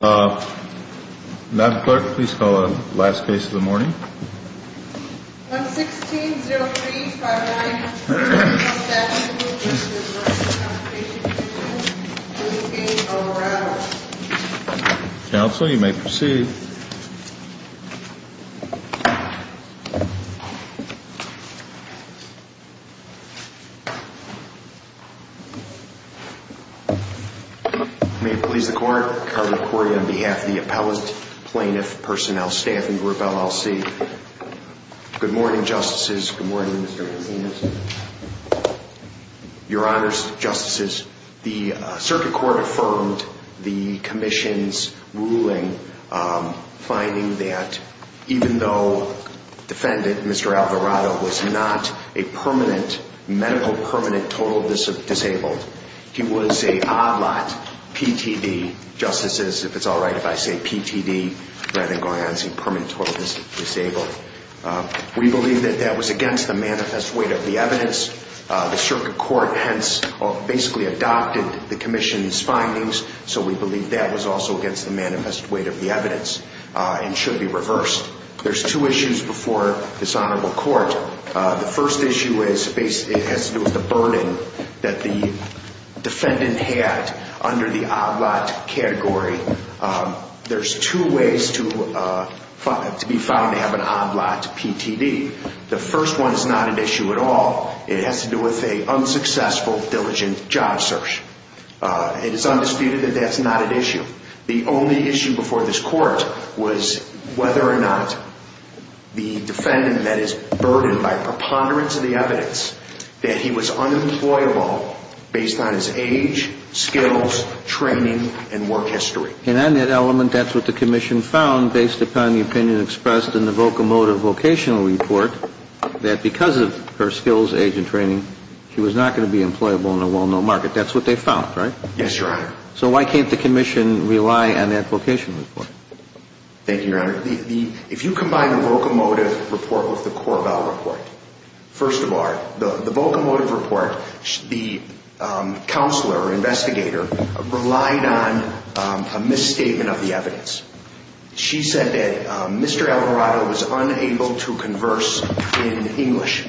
Ma'am Clerk, please call the last case of the morning. 116-03-59, Workers' Compensation Comm'n, 15 O'Rourke. May it please the Court, Cardinal Corey on behalf of the Appellate Plaintiff Personnel Staffing Group, LLC. Good morning, Justices. Good morning, Mr. Casinos. Your Honors, Justices, the Circuit Court affirmed the Commission's ruling, finding that even though defendant, Mr. Alvarado, was not a permanent, medical permanent total disabled, he was a odd lot, PTD, Justices, if it's all right if I say PTD rather than going on to say permanent total disabled. We believe that that was against the manifest weight of the evidence. The Circuit adopted the Commission's findings, so we believe that was also against the manifest weight of the evidence and should be reversed. There's two issues before this Honorable Court. The first issue has to do with the burden that the defendant had under the odd lot category. There's two ways to be found to have an odd lot PTD. The first one is not It is undisputed that that's not an issue. The only issue before this Court was whether or not the defendant met his burden by preponderance of the evidence that he was unemployable based on his age, skills, training, and work history. And on that element, that's what the Commission found based upon the opinion expressed in the vocomotive vocational report that because of her skills, age, and training, she was not going to be employable in a well-known market. That's what they found, right? Yes, Your Honor. So why can't the Commission rely on that vocational report? Thank you, Your Honor. If you combine the vocomotive report with the Corvall report, first of all, the vocomotive report, the counselor, investigator, relied on a misstatement of the evidence. She said that Mr. Alvarado was unable to converse in English.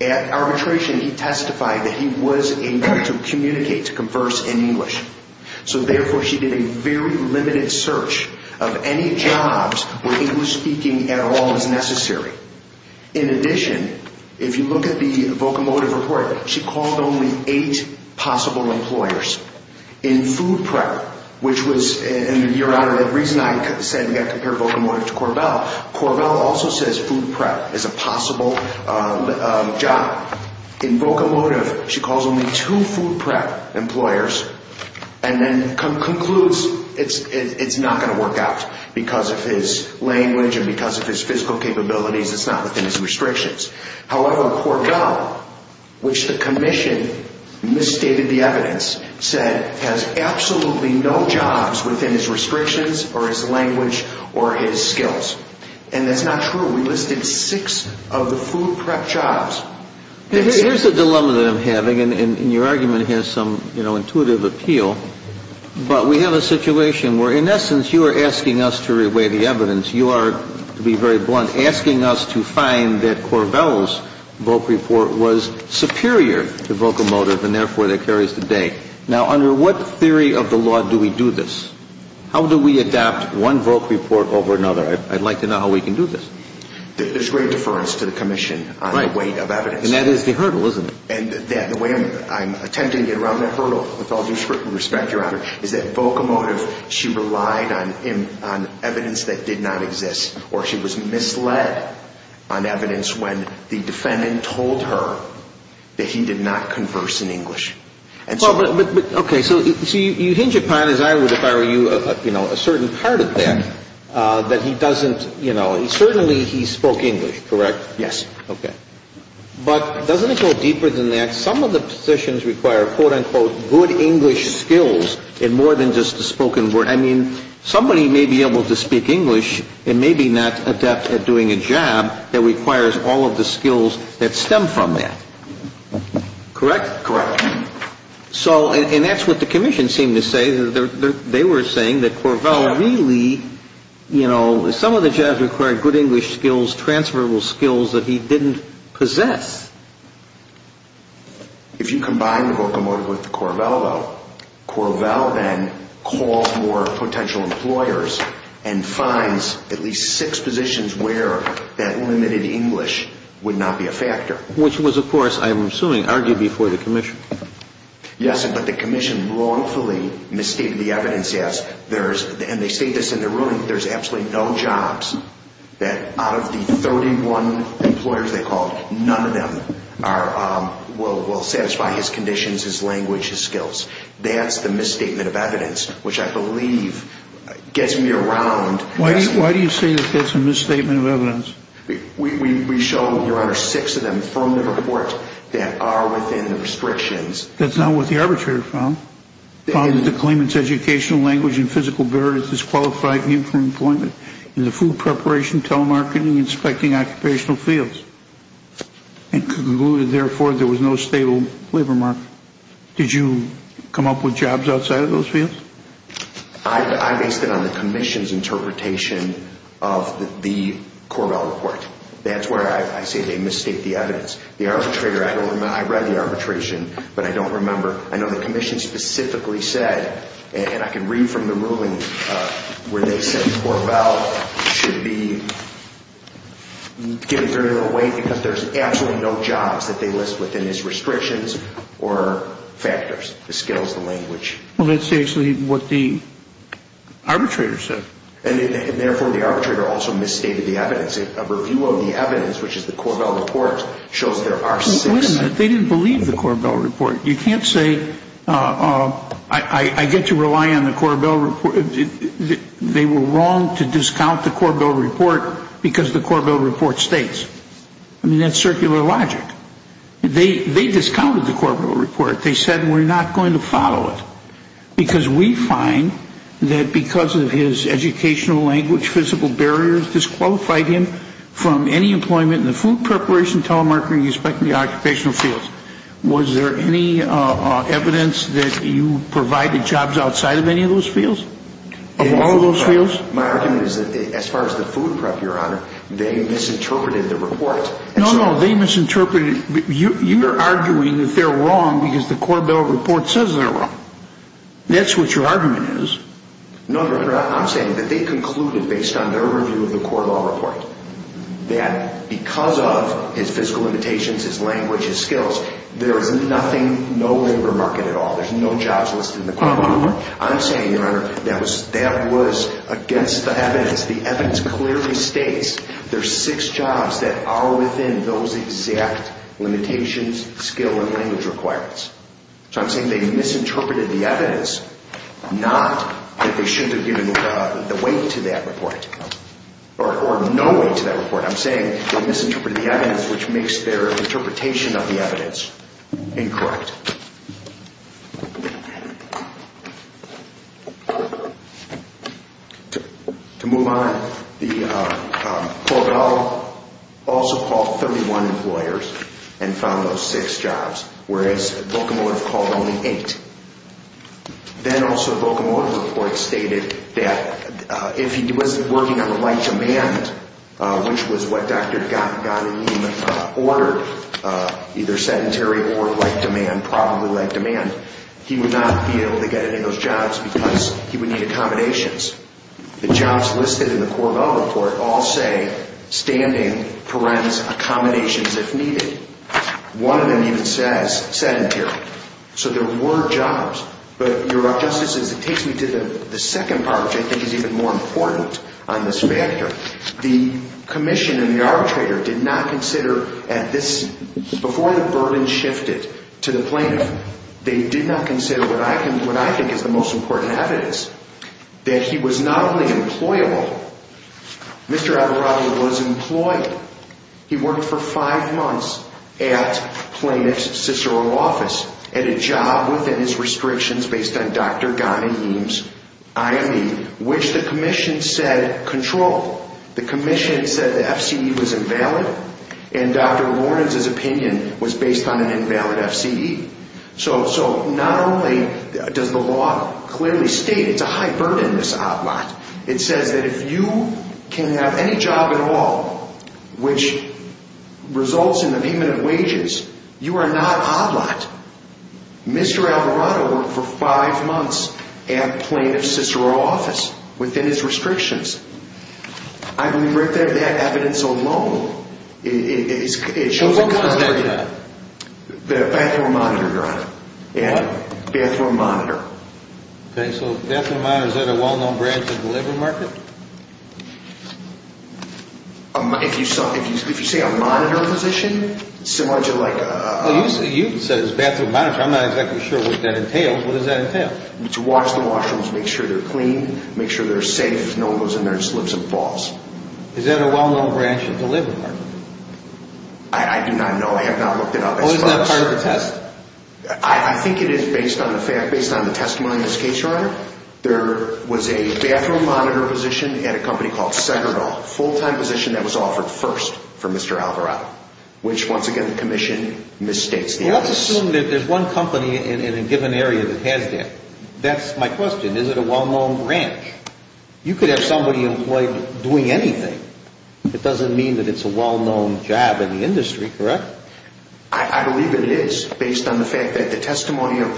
At arbitration, he testified that he was able to communicate, to converse in English. So therefore, she did a very limited search of any jobs where English-speaking at all was necessary. In addition, if you look at the vocomotive report, she called only eight possible employers. In food prep, which was, Your Honor, the reason I said we were looking at the vocomotive report, Corvall also says food prep is a possible job. In vocomotive, she calls only two food prep employers and then concludes it's not going to work out because of his language and because of his physical capabilities. It's not within his restrictions. However, Corvall, which the Commission misstated the evidence, said has absolutely no jobs within his restrictions or his language or his skills. And that's not true. We listed six of the food prep jobs. And here's the dilemma that I'm having, and your argument has some, you know, intuitive appeal, but we have a situation where, in essence, you are asking us to reweigh the evidence. You are, to be very blunt, asking us to find that Corvall's voc report was of the law do we do this? How do we adapt one voc report over another? I'd like to know how we can do this. There's great deference to the Commission on the weight of evidence. And that is the hurdle, isn't it? And the way I'm attempting to get around that hurdle, with all due respect, Your Honor, is that vocomotive, she relied on evidence that did not exist, or she was misled on evidence when the defendant told her that he did not converse in English. Okay. So you hinge upon, as I would if I were you, you know, a certain part of that, that he doesn't, you know, certainly he spoke English, correct? Yes. Okay. But doesn't it go deeper than that? Some of the positions require, quote, unquote, good English skills in more than just the spoken word. I mean, somebody may be able to speak English and may be not adept at doing a job that requires all of the skills that stem from that. Correct? Correct. So, and that's what the Commission seemed to say. They were saying that Corvell really, you know, some of the jobs required good English skills, transferable skills that he didn't possess. If you combine the vocomotive with Corvell, though, Corvell then calls more potential employers and finds at least six positions where that limited English would not be a factor. Which was, of course, I'm assuming argued before the Commission. Yes, but the Commission wrongfully misstated the evidence as there is, and they state this in their ruling, there's absolutely no jobs that out of the 31 employers they called, none of them are, will satisfy his conditions, his language, his skills. That's the misstatement of evidence, which I believe gets me around. Why do you say that that's a misstatement of evidence? We show, Your Honor, six of them from the reports that are within the restrictions. That's not what the arbitrator found. Found that the claimant's educational language and physical virtues disqualified him from employment in the food preparation, telemarketing, inspecting, occupational fields. And concluded, therefore, there was no stable labor market. Did you come up with jobs outside of those fields? I based it on the Commission's interpretation of the Corbell report. That's where I say they misstate the evidence. The arbitrator, I read the arbitration, but I don't remember. I know the Commission specifically said, and I can read from the ruling where they said Corbell should be given 30-year wait because there's absolutely no jobs that they list Well, that's actually what the arbitrator said. And therefore, the arbitrator also misstated the evidence. A review of the evidence, which is the Corbell report, shows there are six. Wait a minute. They didn't believe the Corbell report. You can't say I get to rely on the Corbell report. They were wrong to discount the Corbell report because the Corbell report states. I mean, that's circular logic. They discounted the Corbell report. They said we're not going to follow it because we find that because of his educational language, physical barriers disqualified him from any employment in the food preparation, telemarketing, and inspecting the occupational fields. Was there any evidence that you provided jobs outside of any of those fields? Of all of those fields? My argument is that as far as the food prep, Your Honor, they misinterpreted the report. No, no, they misinterpreted. You're arguing that they're wrong because the Corbell report says they're wrong. That's what your argument is. No, Your Honor, I'm saying that they concluded based on their review of the Corbell report that because of his physical limitations, his language, his skills, there is nothing, no labor market at all. There's no jobs listed in the Corbell report. I'm saying, Your Honor, that was against the evidence. As the evidence clearly states, there's six jobs that are within those exact limitations, skill, and language requirements. So I'm saying they misinterpreted the evidence, not that they shouldn't have given the weight to that report or no weight to that report. I'm saying they misinterpreted the evidence, which makes their interpretation of the evidence incorrect. To move on, the Corbell also called 31 employers and found those six jobs, whereas Volcomotive called only eight. Then also Volcomotive's report stated that if he wasn't working on the right demand, which was what Dr. Gottlieb ordered, either sedentary or like demand, probably like demand, he would not be able to get any of those jobs because he would need accommodations. The jobs listed in the Corbell report all say standing, parents, accommodations if needed. One of them even says sedentary. So there were jobs. But, Your Honor, just as it takes me to the second part, which I think is even more important on this factor, the commission and the arbitrator did not consider at this, before the burden shifted to the plaintiff, they did not consider what I think is the most important evidence, that he was not only employable. Mr. Abiraghi was employed. He worked for five months at Plaintiff's Cicero office, at a job within his restrictions based on Dr. Ghanayim's IME, which the commission said controlled. The commission said the FCE was invalid, and Dr. Lornenz's opinion was based on an invalid FCE. So not only does the law clearly state it's a high burden, this outlaw, it says that if you can have any job at all, which results in a payment of wages, you are not outlawed. Mr. Abiraghi worked for five months at Plaintiff's Cicero office, within his restrictions. I believe right there that evidence alone, it shows a concern. So what was that job? The bathroom monitor, Your Honor. What? Bathroom monitor. Okay, so bathroom monitor, is that a well-known branch of the labor market? If you say a monitor position, it's similar to like a... You said it's bathroom monitor. I'm not exactly sure what that entails. What does that entail? To wash the washrooms, make sure they're clean, make sure they're safe, no one goes in there and slips and falls. Is that a well-known branch of the labor market? I do not know. I have not looked it up. Oh, is that part of the test? I think it is based on the fact, based on the testimony in this case, Your Honor. There was a bathroom monitor position at a company called Senerdal, full-time position that was offered first for Mr. Abiraghi. Which, once again, the commission misstates the office. Well, let's assume that there's one company in a given area that has that. That's my question. Is it a well-known branch? You could have somebody employed doing anything. It doesn't mean that it's a well-known job in the industry, correct? I believe it is, based on the fact that the testimony of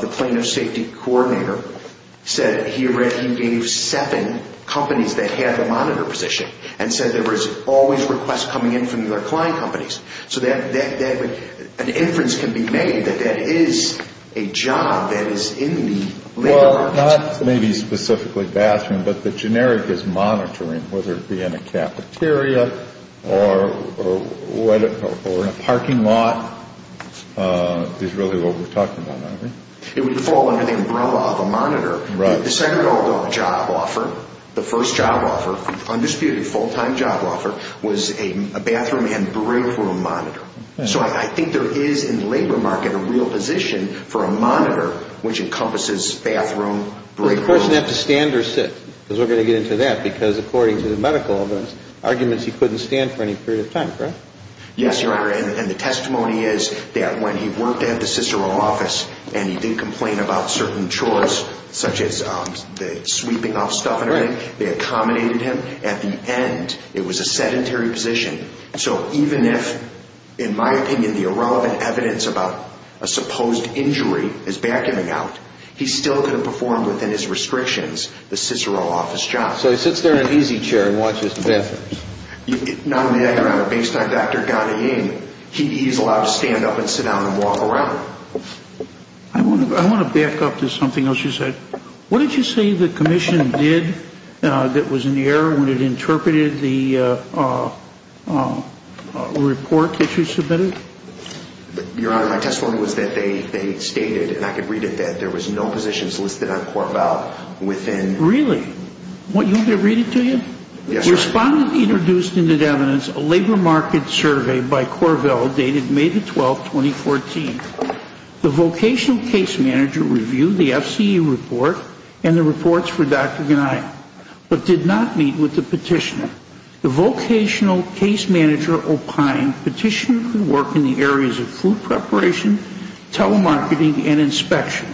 the Plano Safety Coordinator said he gave seven companies that had the monitor position and said there was always requests coming in from their client companies. So an inference can be made that that is a job that is in the labor market. Not maybe specifically bathroom, but the generic is monitoring. Whether it be in a cafeteria or in a parking lot is really what we're talking about, aren't we? It would fall under the umbrella of a monitor. The Senerdal job offer, the first job offer, undisputed full-time job offer, was a bathroom and break room monitor. So I think there is, in the labor market, a real position for a monitor which encompasses bathroom, break rooms. Does the person have to stand or sit? Because we're going to get into that, because according to the medical evidence, arguments he couldn't stand for any period of time, correct? Yes, Your Honor, and the testimony is that when he worked at the Cicero office and he did complain about certain chores, such as the sweeping of stuff and everything, they accommodated him. At the end, it was a sedentary position. So even if, in my opinion, the irrelevant evidence about a supposed injury is backing him out, he still could have performed within his restrictions the Cicero office job. So he sits there in an easy chair and watches the bathroom. Not only that, Your Honor, based on Dr. Ghanaian, he is allowed to stand up and sit down and walk around. I want to back up to something else you said. What did you say the commission did that was in the air when it interpreted the report that you submitted? Your Honor, my testimony was that they stated, and I could read it, that there was no positions listed on Corvell within... Really? You want me to read it to you? Respondent introduced into the evidence a labor market survey by Corvell dated May 12, 2014. The vocational case manager reviewed the FCE report and the reports for Dr. Ghanaian, but did not meet with the petitioner. The vocational case manager opined petitioner could work in the areas of food preparation, telemarketing, and inspection.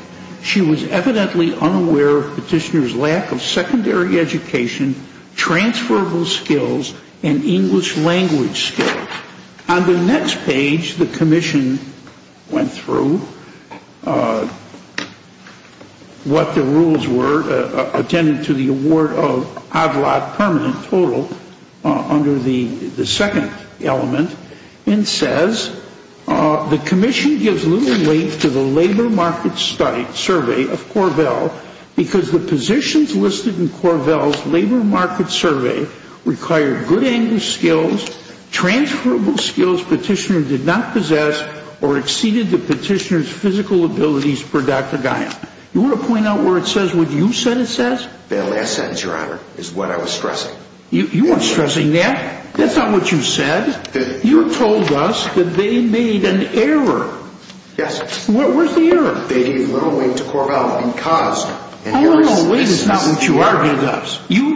She was evidently unaware of petitioner's lack of secondary education, transferable skills, and English language skills. On the next page, the commission went through what the rules were, attended to the award of ADLAT permanent total under the second element, and says the commission gives little weight to the labor market survey of Corvell because the positions listed in Corvell's labor market survey required good English skills, transferable skills petitioner did not possess, or exceeded the petitioner's physical abilities per Dr. Ghanaian. You want to point out where it says what you said it says? That last sentence, Your Honor, is what I was stressing. You weren't stressing that. That's not what you said. You told us that they made an error. Yes. Where's the error? They gave little weight to Corvell because... You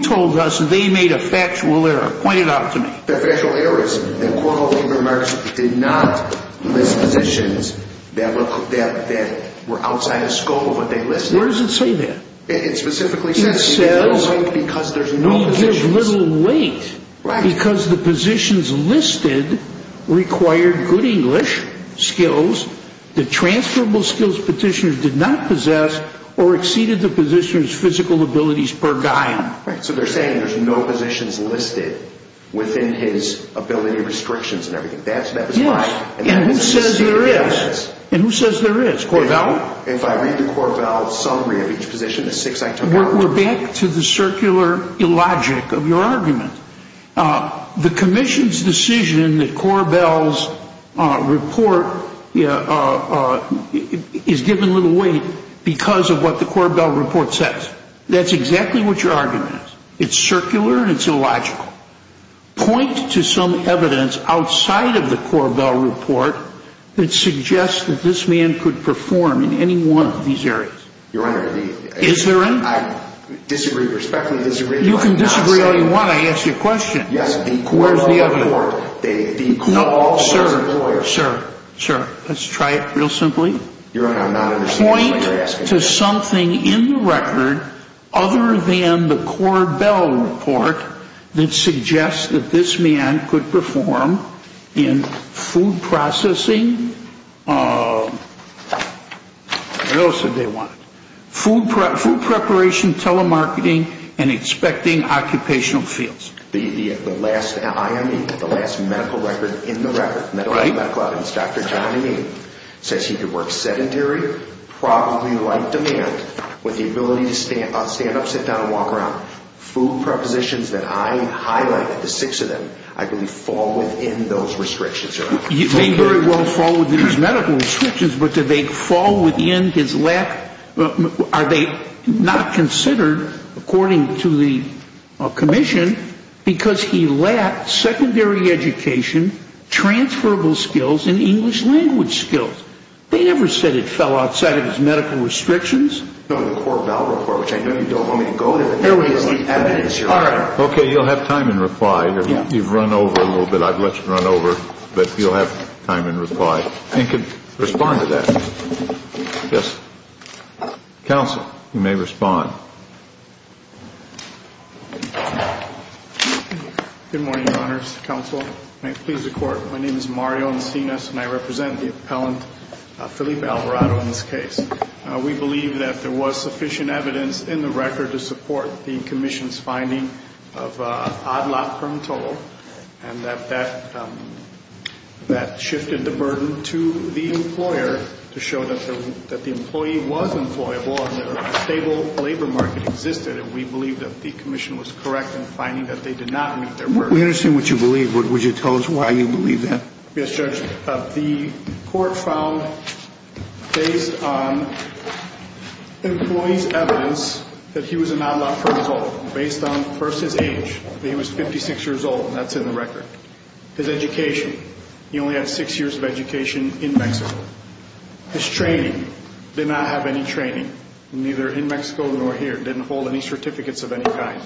told us they made a factual error. Point it out to me. The factual error is that Corvell's labor market survey did not list positions that were outside the scope of what they listed. Where does it say that? It specifically says... It says we give little weight because the positions listed required good English skills, the transferable skills petitioner did not possess, or exceeded the petitioner's physical abilities per Ghanaian. So they're saying there's no positions listed within his ability restrictions and everything. Yes. And who says there is? And who says there is? Corvell? If I read the Corvell summary of each position, the six I took out... We're back to the circular illogic of your argument. The commission's decision that Corvell's report is given little weight because of what the Corvell report says. That's exactly what your argument is. It's circular and it's illogical. Point to some evidence outside of the Corvell report that suggests that this man could perform in any one of these areas. Your Honor... Is there any? I respectfully disagree. You can disagree all you want. I asked you a question. Yes. The Corvell report... Where's the other one? The Corvell report... No. Sir. Sir. Sir. Let's try it real simply. Your Honor, I'm not understanding what you're asking. Point to something in the record other than the Corvell report that suggests that this man could perform in food processing... What else did they want? Food preparation, telemarketing, and expecting occupational fields. The last IME, the last medical record in the record, medical evidence, Dr. John IME, says he could work sedentary, probably like demand, with the ability to stand up, sit down, and walk around. Food prepositions that I highlighted, the six of them, I believe fall within those restrictions, Your Honor. They very well fall within his medical restrictions, but do they fall within his lack... Are they not considered, according to the commission, because he lacked secondary education, transferable skills, and English language skills? They never said it fell outside of his medical restrictions. The Corvell report, which I know you don't want me to go to, but there is the evidence, Your Honor. Okay, you'll have time in reply. You've run over a little bit. I've let you run over, but you'll have time in reply and can respond to that. Yes. Counsel, you may respond. Good morning, Your Honors. Counsel, may it please the Court. My name is Mario Encinas, and I represent the appellant, Felipe Alvarado, in this case. We believe that there was sufficient evidence in the record to support the commission's finding of an odd-lot firm toll, and that that shifted the burden to the employer to show that the employee was employable and that a stable labor market existed. And we believe that the commission was correct in finding that they did not meet their burden. We understand what you believe. Would you tell us why you believe that? Yes, Judge. The court found, based on employee's evidence, that he was an odd-lot firm result. Based on, first, his age. He was 56 years old, and that's in the record. His education. He only had six years of education in Mexico. His training. Did not have any training, neither in Mexico nor here. Didn't hold any certificates of any kind.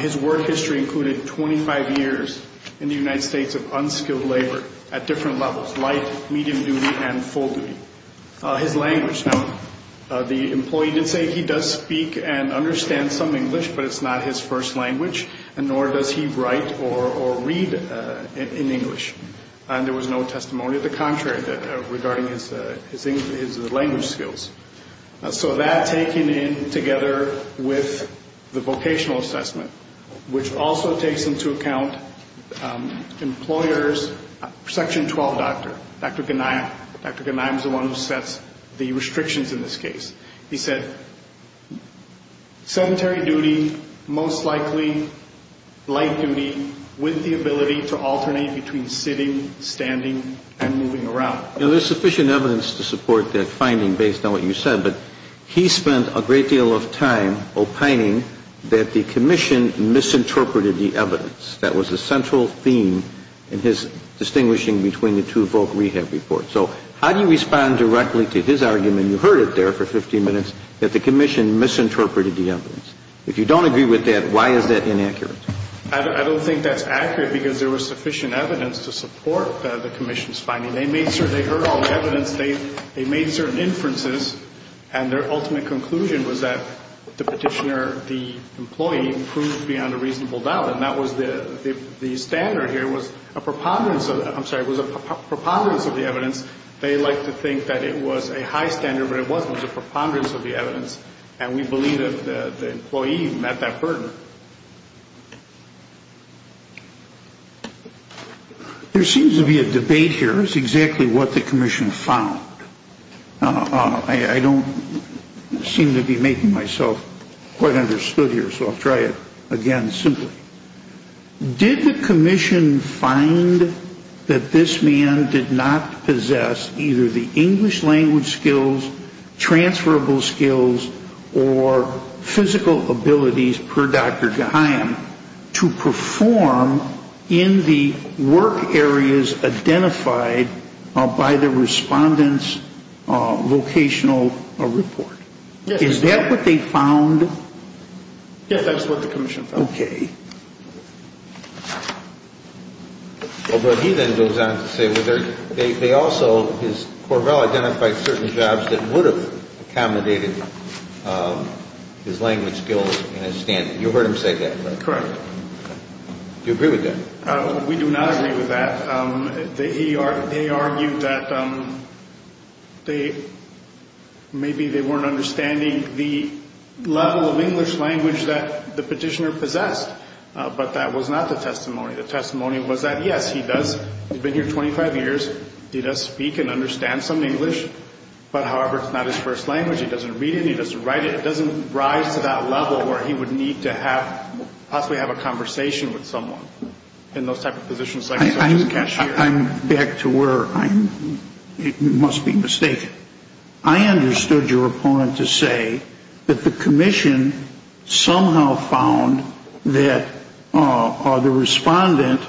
His work history included 25 years in the United States of unskilled labor at different levels, light, medium duty, and full duty. His language. Now, the employee did say he does speak and understand some English, but it's not his first language, and nor does he write or read in English. And there was no testimony of the contrary regarding his language skills. So that, taken in together with the vocational assessment, which also takes into account employer's section 12 doctor, Dr. Ganiyam. Dr. Ganiyam is the one who sets the restrictions in this case. He said sedentary duty, most likely light duty, with the ability to alternate between sitting, standing, and moving around. Now, there's sufficient evidence to support that finding based on what you said, but he spent a great deal of time opining that the commission misinterpreted the evidence. That was the central theme in his distinguishing between the two voc rehab reports. So how do you respond directly to his argument? You heard it there for 15 minutes, that the commission misinterpreted the evidence. If you don't agree with that, why is that inaccurate? I don't think that's accurate because there was sufficient evidence to support the commission's finding. They heard all the evidence. They made certain inferences, and their ultimate conclusion was that the petitioner, the employee, proved beyond a reasonable doubt. And that was the standard here was a preponderance of the evidence. They like to think that it was a high standard, but it wasn't. It was a preponderance of the evidence, and we believe that the employee met that burden. There seems to be a debate here as to exactly what the commission found. I don't seem to be making myself quite understood here, so I'll try it again simply. Did the commission find that this man did not possess either the English language skills, transferable skills, or physical abilities per Dr. Geheim to perform in the work areas identified by the respondent's vocational report? Yes. Is that what they found? Yes, that's what the commission found. Okay. But he then goes on to say they also, Corvell identified certain jobs that would have accommodated his language skills and his standards. You heard him say that, correct? Correct. Do you agree with that? We do not agree with that. They argued that maybe they weren't understanding the level of English language that the petitioner possessed, but that was not the testimony. The testimony was that, yes, he does. He's been here 25 years. He does speak and understand some English, but, however, it's not his first language. He doesn't read it, and he doesn't write it. It doesn't rise to that level where he would need to have, possibly have a conversation with someone in those type of positions. I'm back to where I'm, it must be mistaken. I understood your opponent to say that the commission somehow found that the respondent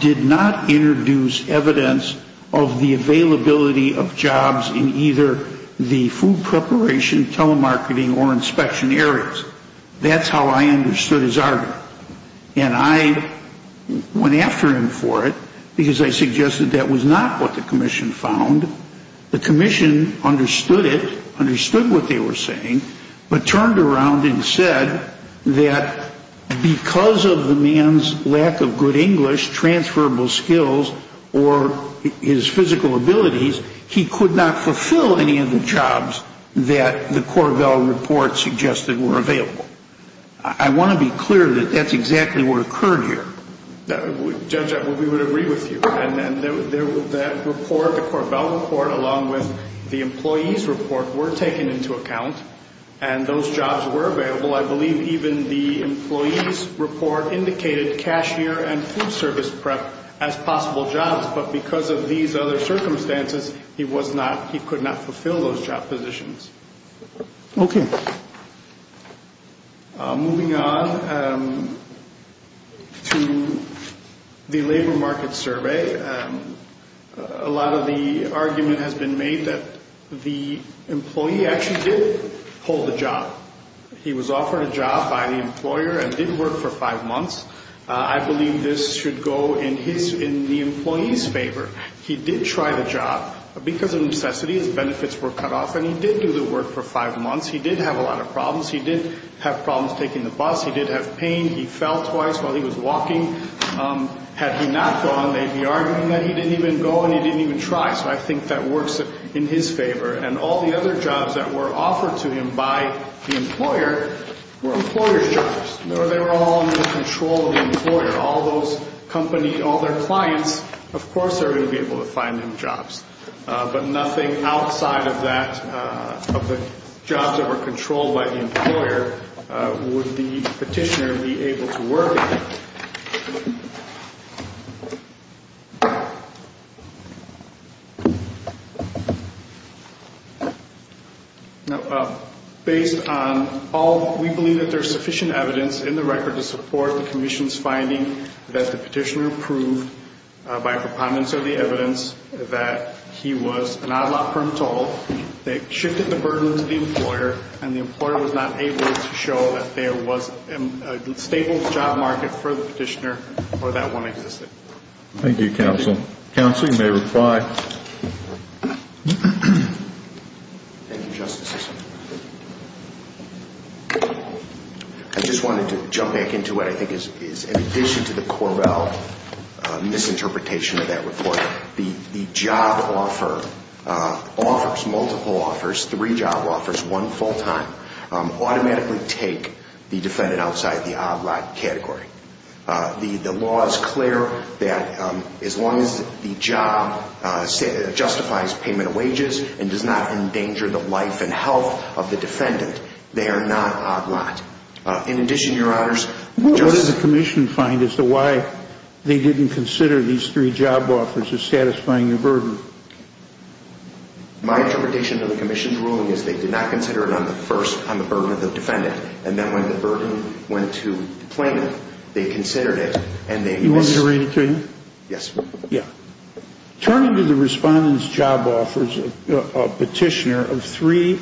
did not introduce evidence of the availability of jobs in either the food preparation, telemarketing, or inspection areas. That's how I understood his argument, and I went after him for it because I suggested that was not what the commission found. The commission understood it, understood what they were saying, but turned around and said that because of the man's lack of good English, transferable skills, or his physical abilities, he could not fulfill any of the jobs that the Corbell report suggested were available. I want to be clear that that's exactly what occurred here. Judge, we would agree with you. And that report, the Corbell report, along with the employee's report were taken into account, and those jobs were available. I believe even the employee's report indicated cashier and food service prep as possible jobs, but because of these other circumstances, he was not, he could not fulfill those job positions. Okay. Moving on to the labor market survey, a lot of the argument has been made that the employee actually did hold a job. He was offered a job by the employer and did work for five months. I believe this should go in the employee's favor. He did try the job. Because of necessity, his benefits were cut off, and he did do the work for five months. He did have a lot of problems. He did have problems taking the bus. He did have pain. He fell twice while he was walking. Had he not gone, they'd be arguing that he didn't even go and he didn't even try, so I think that works in his favor. And all the other jobs that were offered to him by the employer were employer's jobs. They were all under the control of the employer. All those companies, all their clients, of course they're going to be able to find them jobs. But nothing outside of that, of the jobs that were controlled by the employer, would the petitioner be able to work again. Now, based on all, we believe that there's sufficient evidence in the record to support the commission's finding that the petitioner by preponderance of the evidence that he was an out-of-law firm total that shifted the burden to the employer, and the employer was not able to show that there was a stable job market for the petitioner or that one existed. Thank you, Counsel. Counsel, you may reply. Thank you, Justices. I just wanted to jump back into what I think is, in addition to the corral misinterpretation of that report, the job offer, offers, multiple offers, three job offers, one full time, automatically take the defendant outside the odd-lot category. The law is clear that as long as the job justifies payment of wages and does not endanger the life and health of the defendant, they are not odd-lot. In addition, Your Honors, What did the commission find as to why they didn't consider these three job offers as satisfying the burden? My interpretation of the commission's ruling is they did not consider it on the first, on the burden of the defendant, and then when the burden went to the plaintiff, they considered it and they You want me to read it to you? Yes. Yeah. Turning to the respondent's job offers, petitioner, of three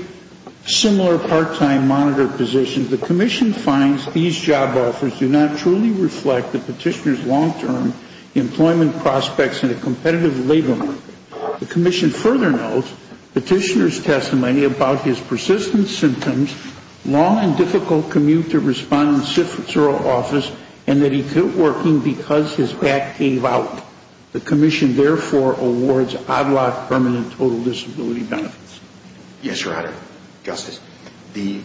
similar part-time monitor positions, the commission finds these job offers do not truly reflect the petitioner's long-term employment prospects in a competitive labor market. The commission further notes petitioner's testimony about his persistent symptoms, long and difficult commute to respondent's office, and that he quit working because his back gave out. The commission, therefore, awards odd-lot permanent total disability benefits. Yes, Your Honor. Justice, the,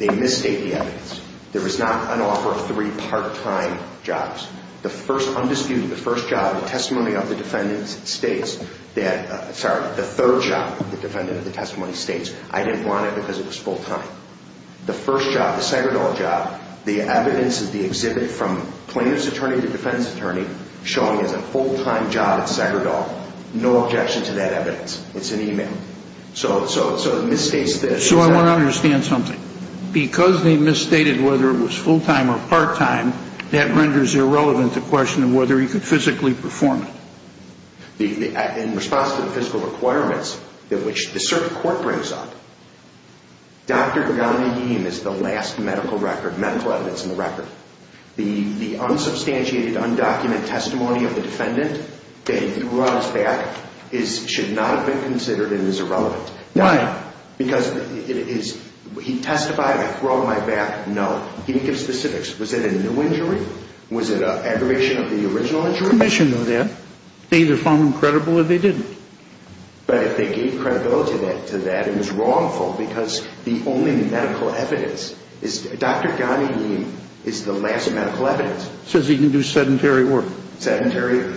they misstate the evidence. There is not an offer of three part-time jobs. The first, undisputed, the first job, the testimony of the defendant states that, sorry, the third job, the defendant of the testimony states, I didn't want it because it was full-time. The first job, the Segredal job, the evidence is the exhibit from plaintiff's attorney to defendant's attorney showing it's a full-time job at Segredal. No objection to that evidence. It's an email. So, so, so it misstates this. So I want to understand something. Because they misstated whether it was full-time or part-time, that renders irrelevant the question of whether he could physically perform it. In response to the physical requirements that which the circuit court brings up, Dr. Ghani Yeem is the last medical record, medical evidence in the record. The unsubstantiated, undocumented testimony of the defendant that he threw out his back should not have been considered and is irrelevant. Why? Because it is, he testified, I throw my back, no. He didn't give specifics. Was it a new injury? Was it an aggravation of the original injury? If the commission knew that, they either found him credible or they didn't. But if they gave credibility to that, it was wrongful because the only medical evidence is, Dr. Ghani Yeem is the last medical evidence. Says he can do sedentary work. Sedentary,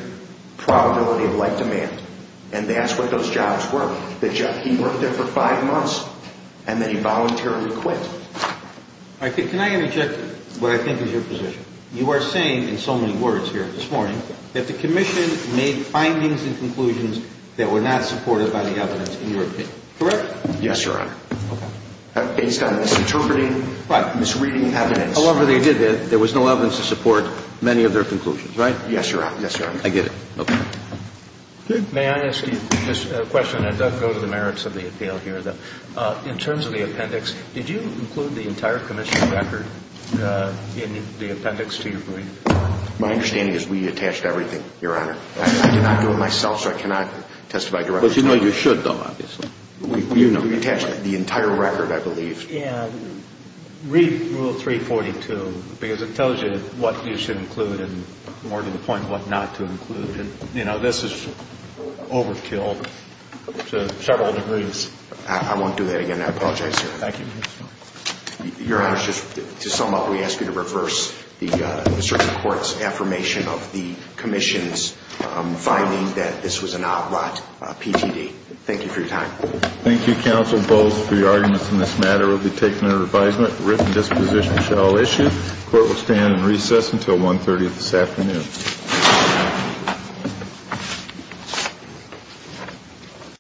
probability of life demand. And that's what those jobs were. He worked there for five months and then he voluntarily quit. Can I interject what I think is your position? You are saying in so many words here this morning that the commission made findings and conclusions that were not supported by the evidence in your opinion, correct? Yes, Your Honor. Okay. Based on misinterpreting, misreading evidence. However they did that, there was no evidence to support many of their conclusions, right? Yes, Your Honor. I get it. Okay. May I ask you a question that does go to the merits of the appeal here, though? In terms of the appendix, did you include the entire commission's record in the appendix to your brief? My understanding is we attached everything, Your Honor. I did not do it myself, so I cannot testify directly. But you know you should, though, obviously. We attached the entire record, I believe. And read Rule 342 because it tells you what you should include and more to the point what not to include. And, you know, this is overkill to several degrees. I won't do that again. I apologize, Your Honor. Thank you. Your Honor, just to sum up, we ask you to reverse the District Court's affirmation of the commission's finding that this was an outright PTD. Thank you for your time. Thank you, Counsel. Both of the arguments in this matter will be taken under advisement. The written disposition shall issue. The Court will stand in recess until 1.30 this afternoon.